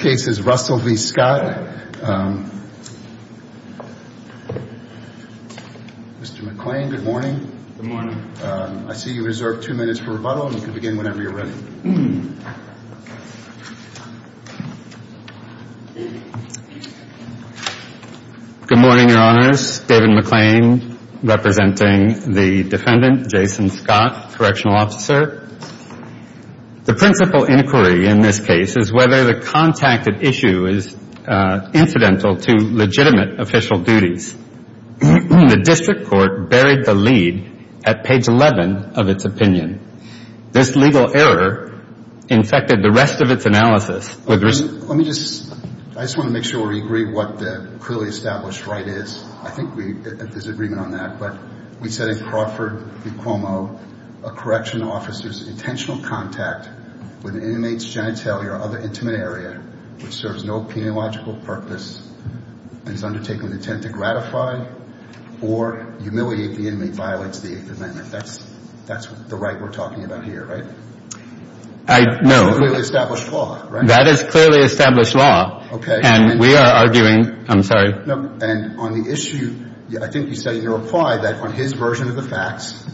in this case is Russell v. Scott. Mr. McClain, good morning. I see you reserve two minutes for rebuttal and you can begin whenever you're ready. Good morning, Your Honors. David McClain representing the defendant, Jason Scott, correctional officer. The principal inquiry in this case is whether the contacted issue is incidental to legitimate official duties. The district court buried the lead at page 11 of its opinion. This legal error infected the rest of its analysis with results. Let me just, I just want to make sure we agree what the clearly established right is. I think there's intentional contact with an inmate's genitalia or other intimate area which serves no peniological purpose and is undertaken with intent to gratify or humiliate the inmate violates the Eighth Amendment. That's the right we're talking about here, right? I know. That is clearly established law, right? That is clearly established law. Okay. And we are arguing, I'm sorry. No. And on the issue, I think you said in your reply that on his version of the facts,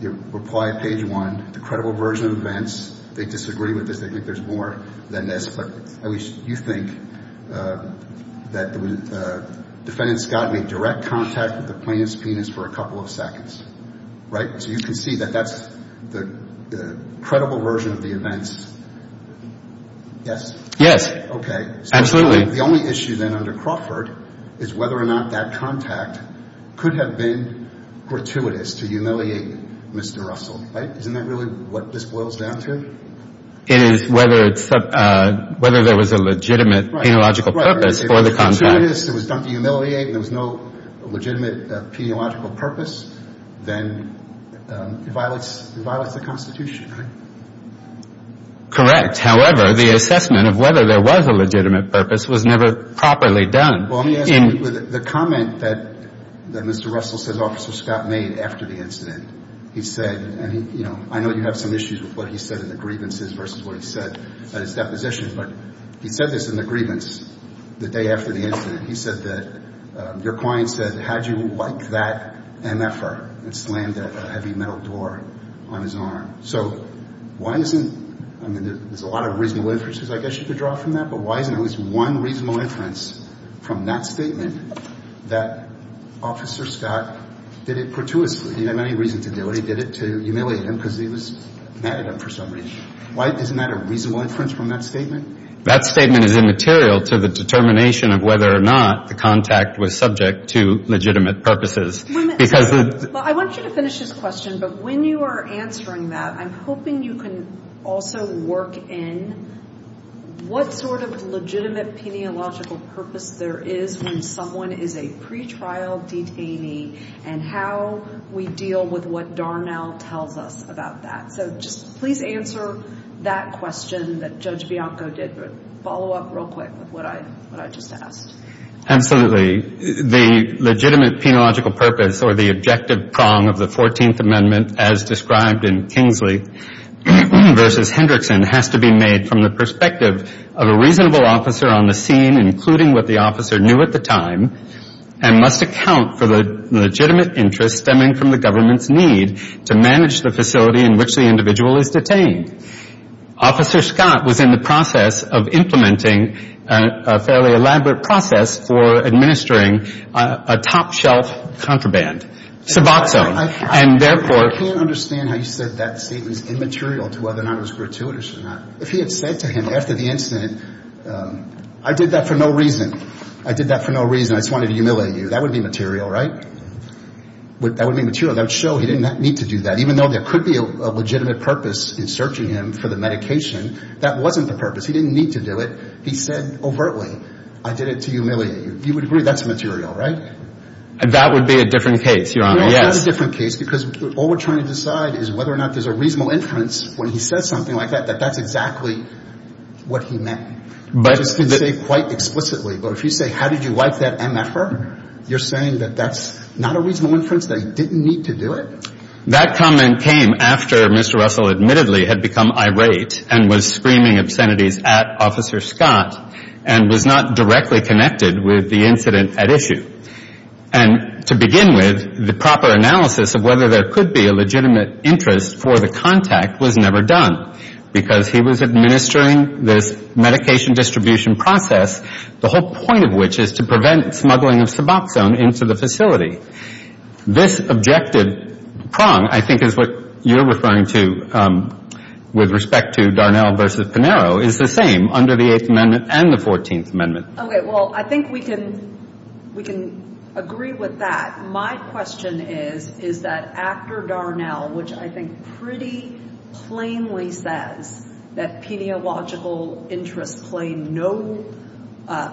your reply at page one, the credible version of events, they disagree with this. They think there's more than this, but at least you think that the defendant, Scott, made direct contact with the plaintiff's penis for a couple of seconds, right? So you can see that that's the credible version of the events. Yes? Okay. Absolutely. So the only issue then under Crawford is whether or not that contact could have been gratuitous to humiliate Mr. Russell, right? Isn't that really what this boils down to? It is whether there was a legitimate peniological purpose for the contact. If it was gratuitous, it was done to humiliate, and there was no legitimate peniological purpose, then it violates the Constitution, right? Correct. However, the assessment of whether there was a legitimate purpose was never properly done. Well, let me ask you, the comment that Mr. Russell says Officer Scott made after the incident, he said, and I know you have some issues with what he said in the grievances versus what he said at his deposition, but he said this in the grievance the day after the incident. He said that your client said, how'd you like that MFR? And slammed a heavy metal door on his arm. So why isn't, I mean, there's a lot of reasonable inferences I guess you could draw from that, but why isn't at least one reasonable inference from that statement that Officer Scott did it gratuitously? He didn't have any reason to do it. He did it to humiliate him because he was mad at him for some reason. Isn't that a reasonable inference from that statement? That statement is immaterial to the determination of whether or not the contact was subject to legitimate purposes. I want you to finish this question, but when you are answering that, I'm hoping you can also work in what sort of legitimate peniological purpose there is when someone is a pre-trial detainee and how we deal with what Darnell tells us about that. So just please answer that question that Judge Bianco did, but follow up real quick with what I just asked. Absolutely. The legitimate peniological purpose or the objective prong of the 14th Amendment as described in Kingsley v. Hendrickson has to be made from the perspective of a reasonable officer on the scene, including what the officer knew at the time, and must account for the legitimate interest stemming from the government's need to manage the facility in which the individual is detained. Officer Scott was in the process of implementing a fairly elaborate process for administering a top shelf contraband, Suboxone, and therefore can't understand how you said that statement is immaterial to whether or not it was gratuitous or not. If he had said to him after the incident, I did that for no reason. I did that for no reason. I just wanted to humiliate you. That would be material, right? That would be material. That would show he did not need to do that. Even though there could be a legitimate purpose in searching him for the medication, that wasn't the purpose. He didn't need to do it. He said overtly, I did it to humiliate you. You would agree that's material, right? And that would be a different case, Your Honor, yes. That's a different case because all we're trying to decide is whether or not there's a reasonable inference when he says something like that, that that's exactly what he meant. But just to say quite explicitly, but if you say how did you like that MFR, you're saying that that's not a reasonable inference, that he didn't need to do it? That comment came after Mr. Russell admittedly had become irate and was screaming obscenities at Officer Scott and was not directly connected with the incident at issue. And to begin with, the proper analysis of whether there could be a legitimate interest for the contact was never done because he was administering this medication distribution process, the whole point of which is to prevent smuggling of Suboxone into the facility. This objective prong, I think, is what you're referring to with respect to Darnell versus Pinero is the same under the Eighth Amendment and the Fourteenth Amendment. Okay. Well, I think we can, we can agree with that. My question is, is that after Darnell, which I think pretty plainly says that pediological interests play no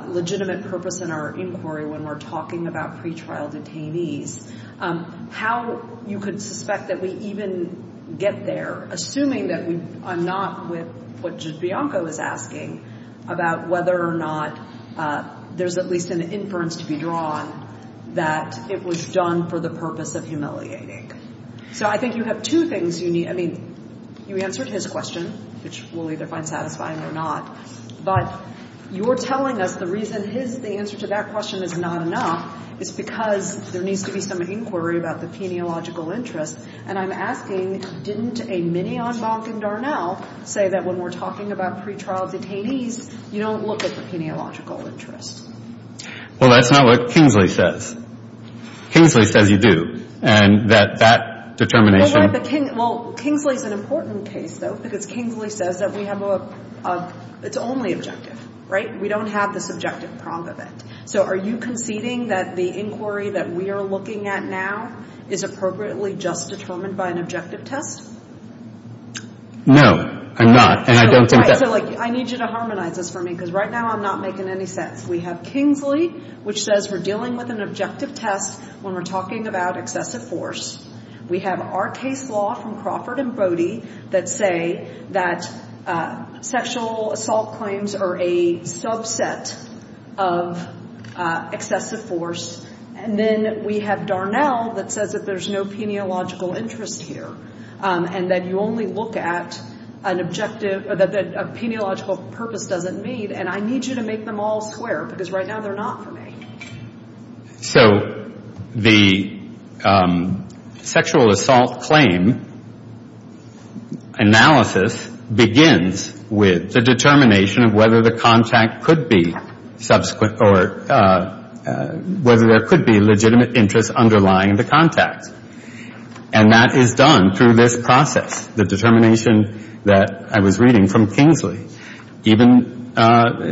legitimate purpose in our inquiry when we're talking about pretrial detainees, how you could suspect that we even get there, assuming that we, I'm not with what Bianca was asking about whether or not there's at least an inference to be drawn that it was done for the purpose of humiliating. So I think you have two things you need, I mean, you answered his question, which we'll either find satisfying or not, but you're telling us the reason his, the answer to that question is not enough is because there needs to be some inquiry about the pediological interests. And I'm asking, didn't a mini-envelop in Darnell say that when we're talking about pretrial detainees, you don't look at the pediological interests? Well, that's not what Kingsley says. Kingsley says you do. And that that determination. Well, Kingsley's an important case, though, because Kingsley says that we have a, it's only objective, right? We don't have the subjective prong of it. So are you conceding that the inquiry that we are looking at now is appropriately just determined by an objective test? No, I'm not, and I don't think that. So, like, I need you to harmonize this for me, because right now I'm not making any sense. We have Kingsley, which says we're dealing with an objective test when we're talking about excessive force. We have our case law from Crawford and Bodie that say that sexual assault claims are a subset of excessive force. And then we have Darnell that says that there's no pediological interest here, and that you only look at an objective, that a pediological purpose doesn't meet. And I need you to make them all square, because right now they're not for me. So the sexual assault claim analysis begins with the determination of whether the contact could be subsequent or whether there could be legitimate interest underlying the contact. And that is done through this process, the determination that I was reading from Kingsley. Even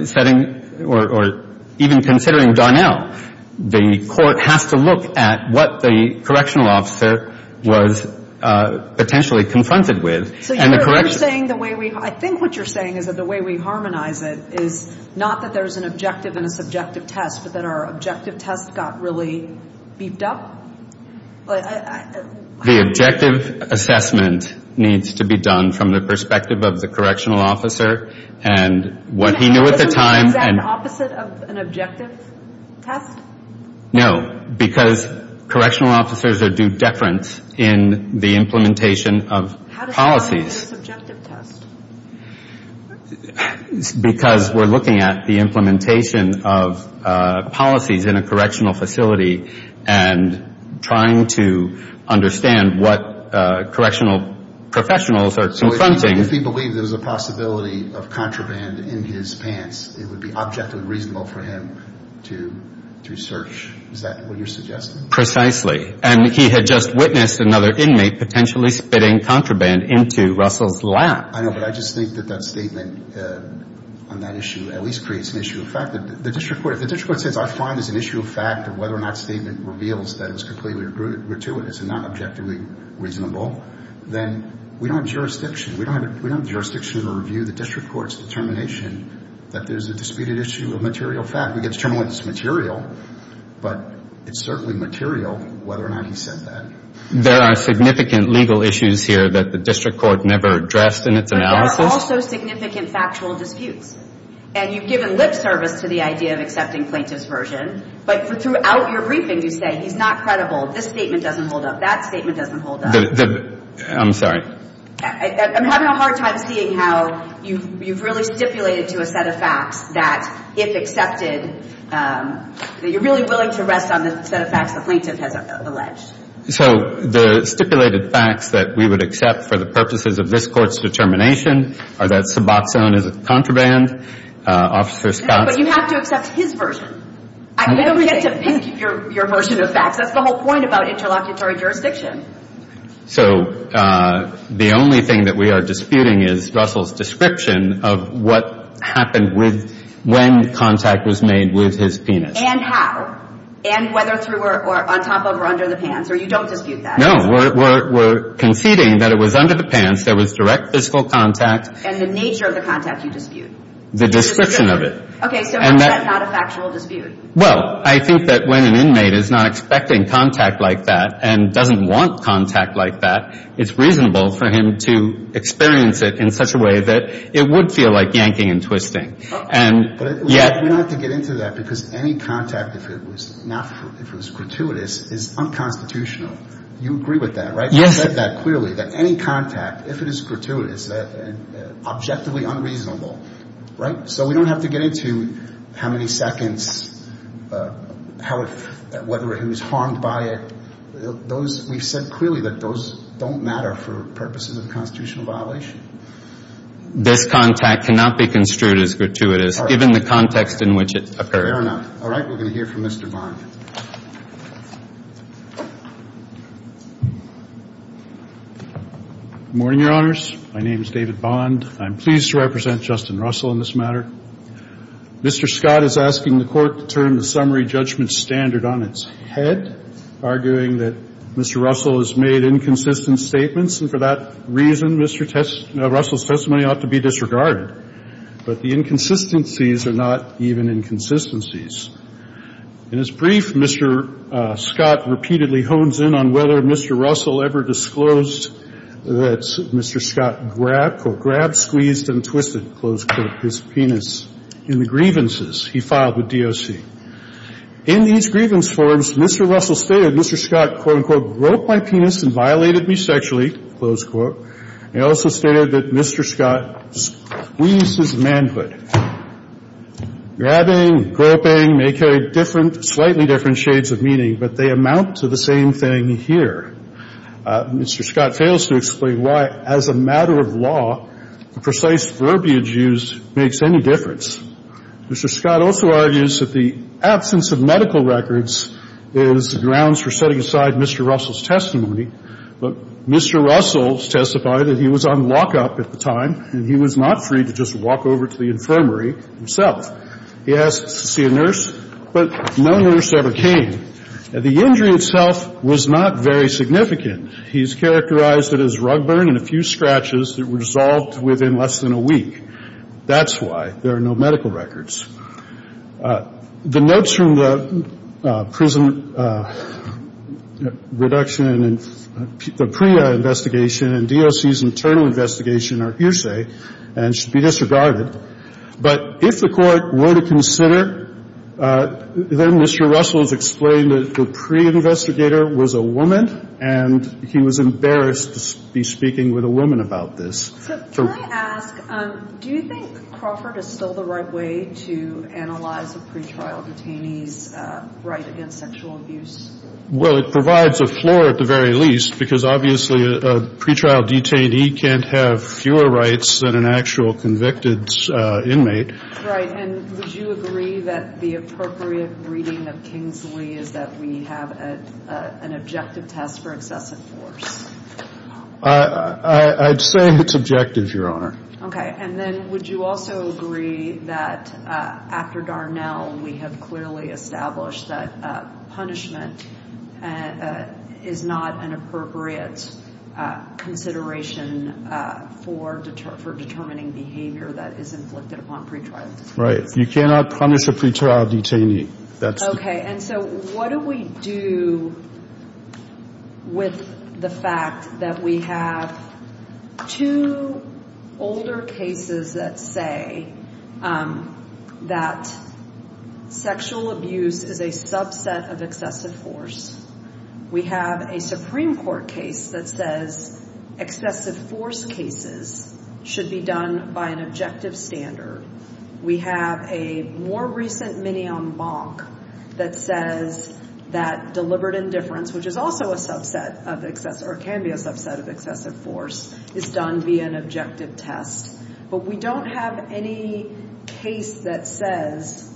setting, or even considering Darnell, the court has to look at what the correctional officer was potentially confronted with. I think what you're saying is that the way we harmonize it is not that there's an objective and a subjective test, but that our objective test got really beefed up? The objective assessment needs to be done from the perspective of the correctional officer and what he knew at the time. Isn't that the exact opposite of an objective test? No, because correctional officers are due deference in the implementation of policies. How does that make it a subjective test? Because we're looking at the implementation of policies in a correctional facility and trying to understand what correctional professionals are confronting. So if he believed there was a possibility of spitting contraband in his pants, it would be objectively reasonable for him to search. Is that what you're suggesting? Precisely. And he had just witnessed another inmate potentially spitting contraband into Russell's lap. I know, but I just think that that statement on that issue at least creates an issue of fact. The district court says I find this an issue of fact of whether or not statement reveals that it was completely gratuitous and not objectively reasonable, then we don't have jurisdiction. We don't have jurisdiction to review the district court's determination that there's a disputed issue of material fact. We can determine whether it's material, but it's certainly material whether or not he said that. There are significant legal issues here that the district court never addressed in its analysis. But there are also significant factual disputes. And you've given lip service to the idea of accepting plaintiff's version, but throughout your briefing you say he's not credible. This statement doesn't hold up. That statement doesn't hold up. I'm sorry. I'm having a hard time seeing how you've really stipulated to a set of facts that if accepted, that you're really willing to rest on the set of facts the plaintiff has alleged. So the stipulated facts that we would accept for the purposes of this court's determination are that Suboxone is contraband, Officer Scott. But you have to accept his version. I don't get to think your version of facts. That's the whole point about interlocutory jurisdiction. So the only thing that we are disputing is Russell's description of what happened when contact was made with his penis. And how. And whether through or on top of or under the pants. Or you don't dispute that. No. We're conceding that it was under the pants. There was direct physical contact. And the nature of the contact you dispute. The description of it. Okay. So that's not a factual dispute. Well, I think that when an inmate is not expecting contact like that and doesn't want contact like that, it's reasonable for him to experience it in such a way that it would feel like yanking and twisting. But we don't have to get into that because any contact, if it was gratuitous, is unconstitutional. You agree with that, right? Yes. You said that clearly. That any contact, if it is gratuitous, objectively unreasonable. So we don't have to get into how many seconds, whether he was harmed by it. We've said clearly that those don't matter for purposes of constitutional violation. This contact cannot be construed as gratuitous, given the context in which it occurred. Fair enough. All right. We're going to hear from Mr. Bond. Good morning, Your Honors. My name is David Bond. I'm pleased to represent Justin Russell in this matter. Mr. Scott is asking the Court to turn the summary judgment standard on its head, arguing that Mr. Russell has made inconsistent statements, and for that reason, Mr. Russell's testimony ought to be disregarded. But the inconsistencies are not even inconsistencies. In his brief, Mr. Scott repeatedly hones in on whether Mr. Russell ever disclosed that Mr. Scott grabbed, squeezed, and twisted his penis in the grievances he filed with DOC. In these grievance forms, Mr. Russell stated Mr. Scott, quote, unquote, groped my penis and violated me sexually, close quote. He also stated that Mr. Scott squeezed his manhood. Grabbing, groping may carry different, slightly different shades of meaning, but they amount to the same thing here. Mr. Scott fails to explain why, as a matter of law, the precise verbiage used makes any difference. Mr. Scott also argues that the absence of medical records is grounds for setting aside Mr. Russell's testimony, but Mr. Russell testified that he was on lockup at the time and he was not free to just walk over to the infirmary himself. He asked to see a nurse, but no nurse ever came. The injury itself was not very significant. He's characterized it as rug burn and a few scratches that were dissolved within less than a week. That's why there are no medical records. The notes from the prison reduction and the PREA investigation and DOC's internal investigation are hearsay and should be disregarded, but if the Court were to consider then Mr. Russell's explained that the PREA investigator was a woman and he was embarrassed to be speaking with a woman about this. Can I ask, do you think Crawford is still the right way to analyze a pretrial detainee's right against sexual abuse? Well, it provides a floor at the very least, because obviously a pretrial detainee can't have fewer rights than an actual convicted inmate. Right, and would you agree that the appropriate reading of Kingsley is that we have an objective test for excessive force? I'd say it's objective, Your Honor. Okay, and then would you also agree that after Darnell we have clearly established that punishment is not an appropriate consideration for determining behavior that is inflicted upon pretrial detainees? Right, you cannot punish a pretrial detainee. Okay, and so what do we do with the fact that we have two older cases that say that sexual abuse is a subset of excessive force? We have a Supreme Court case that says excessive force cases should be done by an objective standard. We have a more recent mini-en banc that says that deliberate indifference, which is also a subset of excessive force, is done via an objective test. But we don't have any case that says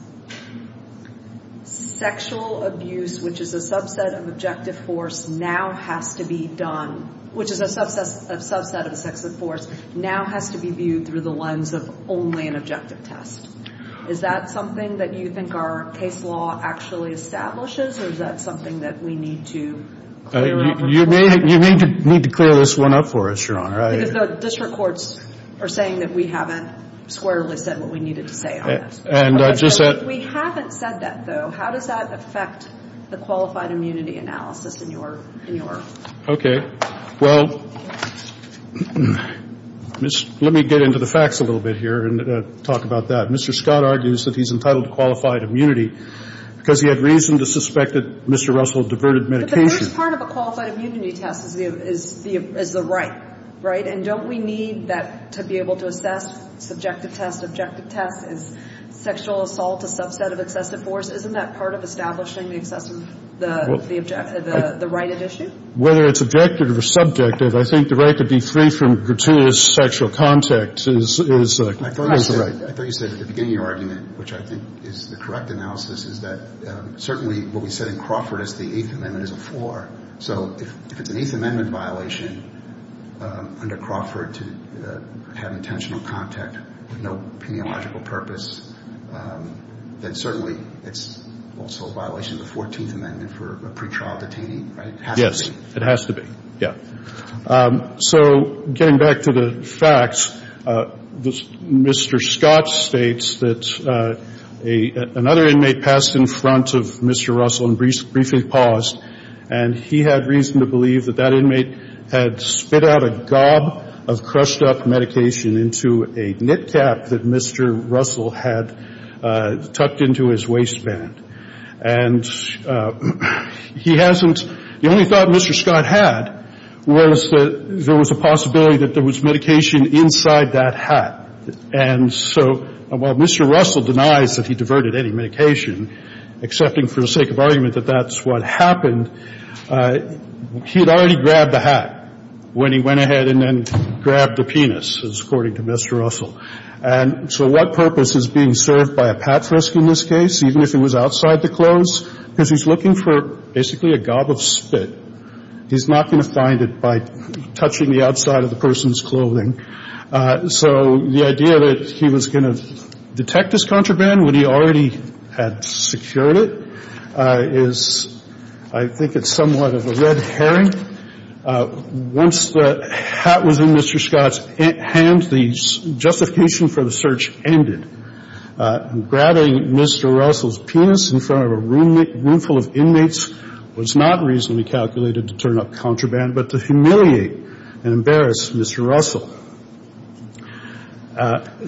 sexual abuse, which is a subset of objective force, now has to be done, which is a subset of excessive force, now has to be viewed through the lens of only an objective test. Is that something that you think our case law actually establishes, or is that something that we need to clear up? You may need to clear this one up for us, Your Honor. Because the district courts are saying that we haven't squarely said what we needed to say on that. And I just said... If we haven't said that, though, how does that affect the qualified immunity analysis in your... Okay, well, let me get into the facts a little bit here and talk about that. Mr. Scott argues that he's entitled to qualified immunity because he had reason to suspect that Mr. Russell diverted medication. But the first part of a qualified immunity test is the right, right? And don't we need that to be able to assess subjective test, objective test? Is sexual assault a subset of excessive force? Isn't that part of establishing the excessive... the right at issue? Whether it's objective or subjective, I think the right to be free from gratuitous sexual contact is... I thought you said at the beginning of your argument, which I think is the correct analysis, is that certainly what we said in Crawford is the Eighth Amendment is a four. So if it's an Eighth Amendment violation under Crawford to have intentional contact with no peniological purpose, then certainly it's also a violation of the Fourteenth Amendment for a And getting back to the facts, Mr. Scott states that another inmate passed in front of Mr. Russell and briefly paused, and he had reason to believe that that inmate had spit out a gob of crushed up medication into a knit cap that Mr. Russell had tucked into his waistband. And he hasn't... And what Mr. Scott had was that there was a possibility that there was medication inside that hat. And so while Mr. Russell denies that he diverted any medication, accepting for the sake of argument that that's what happened, he had already grabbed the hat when he went ahead and then grabbed the penis, according to Mr. Russell. And so what purpose is being served by a patrisk in this case, even if it was outside the clothes? Because he's looking for basically a gob of spit. He's not going to find it by touching the outside of the person's clothing. So the idea that he was going to detect his contraband when he already had secured it is, I think it's somewhat of a red herring. Once the hat was in Mr. Scott's hand, the justification for the search ended. Grabbing Mr. Russell's penis in front of a room full of inmates was not reasonably calculated to turn up contraband, but to humiliate and embarrass Mr. Russell.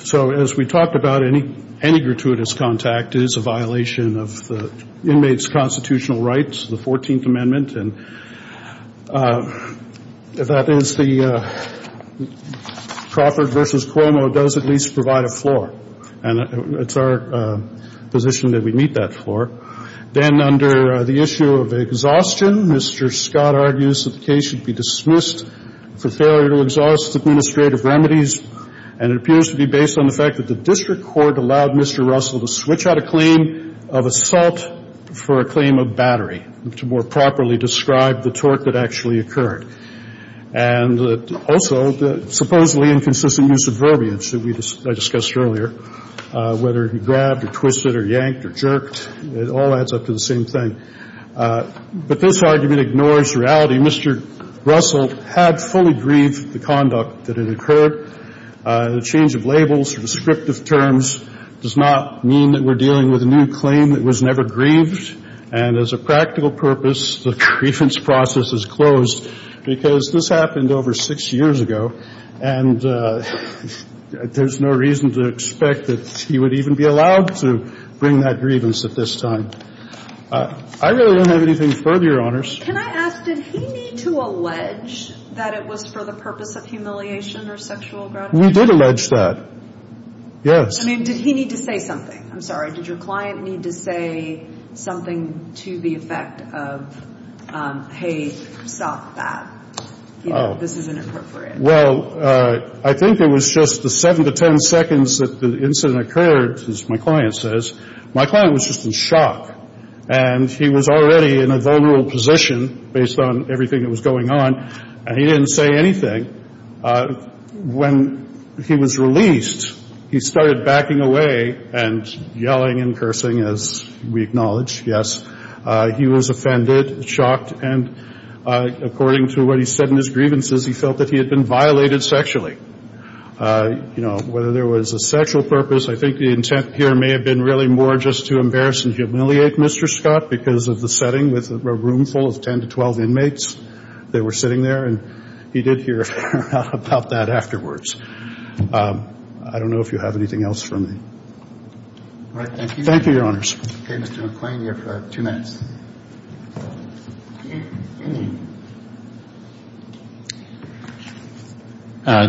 So as we talked about, any gratuitous contact is a violation of the inmates' constitutional rights, the 14th Amendment. And that is the Crawford v. Cuomo does at least provide a floor. And it's our position that we meet that floor. Then under the issue of exhaustion, Mr. Scott argues that the case should be dismissed for failure to exhaust administrative remedies. And it appears to be based on the fact that the district court allowed Mr. Russell to switch out a claim of assault for a claim of battery to more properly describe the tort that actually occurred. And also the supposedly inconsistent use of verbiage that I discussed earlier, whether he grabbed or twisted or yanked or jerked, it all adds up to the same thing. But this argument ignores reality. Mr. Russell had fully grieved the conduct that had occurred. The change of labels or descriptive terms does not mean that we're dealing with a new claim that was never grieved. And as a practical purpose, the grievance process is closed because this happened over six years ago. And there's no reason to expect that he would even be allowed to bring that grievance at this time. I really don't have anything further, Your Honors. Can I ask, did he need to allege that it was for the purpose of humiliation or sexual gratification? We did allege that. Yes. I mean, did he need to say something? I'm sorry. Did your client need to say something to the effect of hey, stop that. This isn't appropriate. Well, I think it was just the 7 to 10 seconds that the incident occurred, as my client says. My client was just in shock. And he was already in a vulnerable position based on everything that was going on. And he didn't say anything. When he was released, he started backing away and yelling and cursing as we acknowledge. Yes. He was offended, shocked, and according to what he said in his grievances, he felt that he had been violated sexually. Whether there was a sexual purpose, I think the intent here may have been really more just to embarrass and humiliate Mr. Scott because of the setting with a room full of 10 to 12 inmates that were sitting there. And he did hear about that afterwards. I don't know if you have anything else for me. All right. Thank you. Thank you, Your Honors. Okay. Mr. McClain, you have two minutes.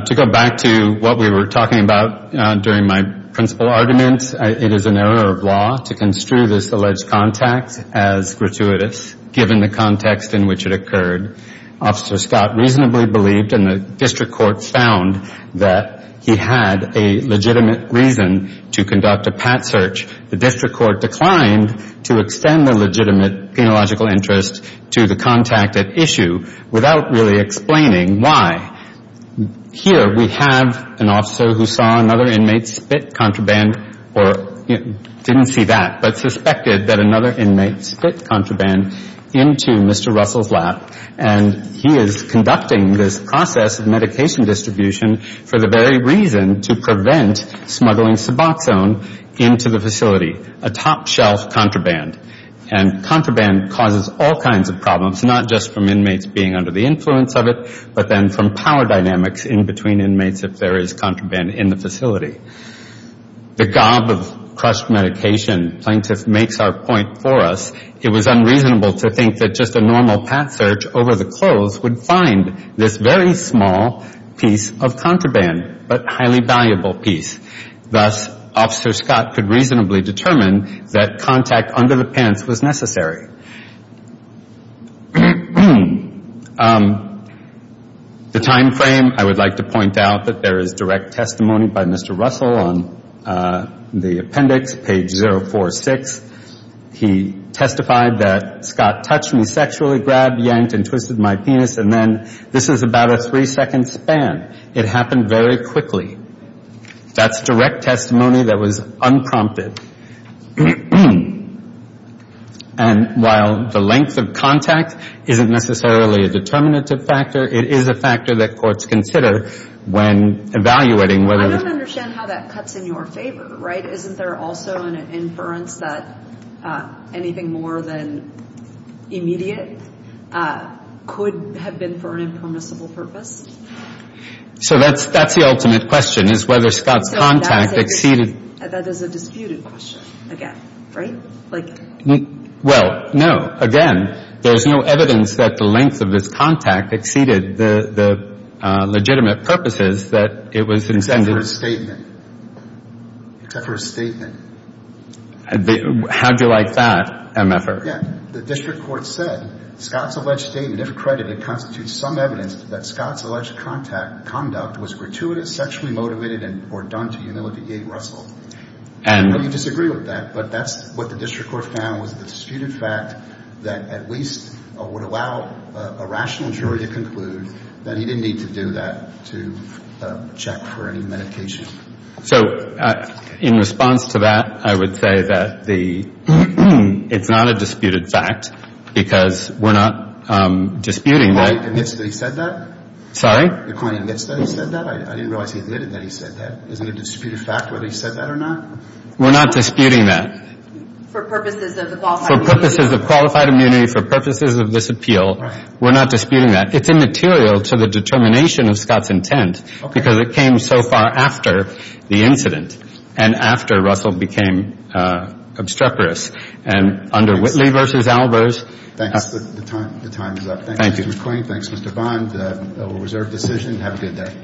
To go back to what we were talking about during my principal argument, it is an error of law to construe this alleged contact as gratuitous, given the context in which it occurred. Officer Scott reasonably believed and the District Court found that he had a legitimate reason to conduct a legitimate penological interest to the contact at issue without really explaining why. Here we have an officer who saw another inmate spit contraband or didn't see that but suspected that another inmate spit contraband into Mr. Russell's lap and he is conducting this process of medication distribution for the very reason to prevent smuggling suboxone into the facility, a top shelf contraband. And contraband causes all kinds of problems, not just from inmates being under the influence of it, but then from power dynamics in between inmates if there is contraband in the facility. The gob of crushed medication plaintiff makes our point for us. It was unreasonable to think that just a normal path search over the clothes would find this very small piece of contraband, but highly valuable piece. Thus, Officer Scott could reasonably determine that contact under the pants was necessary. The time frame, I would like to point out that there is direct testimony by Mr. Russell on the appendix, page 046. He testified that Scott touched me sexually, grabbed, yanked, and twisted my penis, and then this is about a three-second span. It happened very quickly. That's direct testimony that was unprompted. And while the length of contact isn't necessarily a determinative factor, it is a factor that courts consider when evaluating whether... I don't understand how that cuts in your favor, right? Isn't there also an inference that anything more than immediate could have been for an impermissible purpose? So that's the ultimate question, is whether Scott's contact exceeded... That is a disputed question, again, right? Well, no. Again, there's no evidence that the length of his contact exceeded the legitimate purposes that it was intended... Except for his statement. Except for his statement. How do you like that, MFR? Yeah. The district court said, Scott's alleged statement, if credited, constitutes some evidence that Scott's alleged conduct was gratuitous, sexually motivated, or done to humiliate Russell. I know you disagree with that, but that's what the district court found was a disputed fact that at least would allow a rational jury to conclude that he didn't need to do that to check for any medication. So in response to that, I would say that it's not a disputed fact, because we're not disputing that... The client admits that he said that? Sorry? The client admits that he said that? I didn't realize he admitted that he said that. Isn't it a disputed fact whether he said that or not? We're not disputing that. For purposes of the qualified immunity? For purposes of qualified immunity, for purposes of this appeal, we're not disputing that. It's immaterial to the determination of Scott's intent, because it came so far after the incident, and after Russell became obstreperous. And under Whitley v. Albers... Thanks. The time is up. Thank you, Mr. McQueen. Thanks, Mr. Bond. Reserved decision. Have a good day.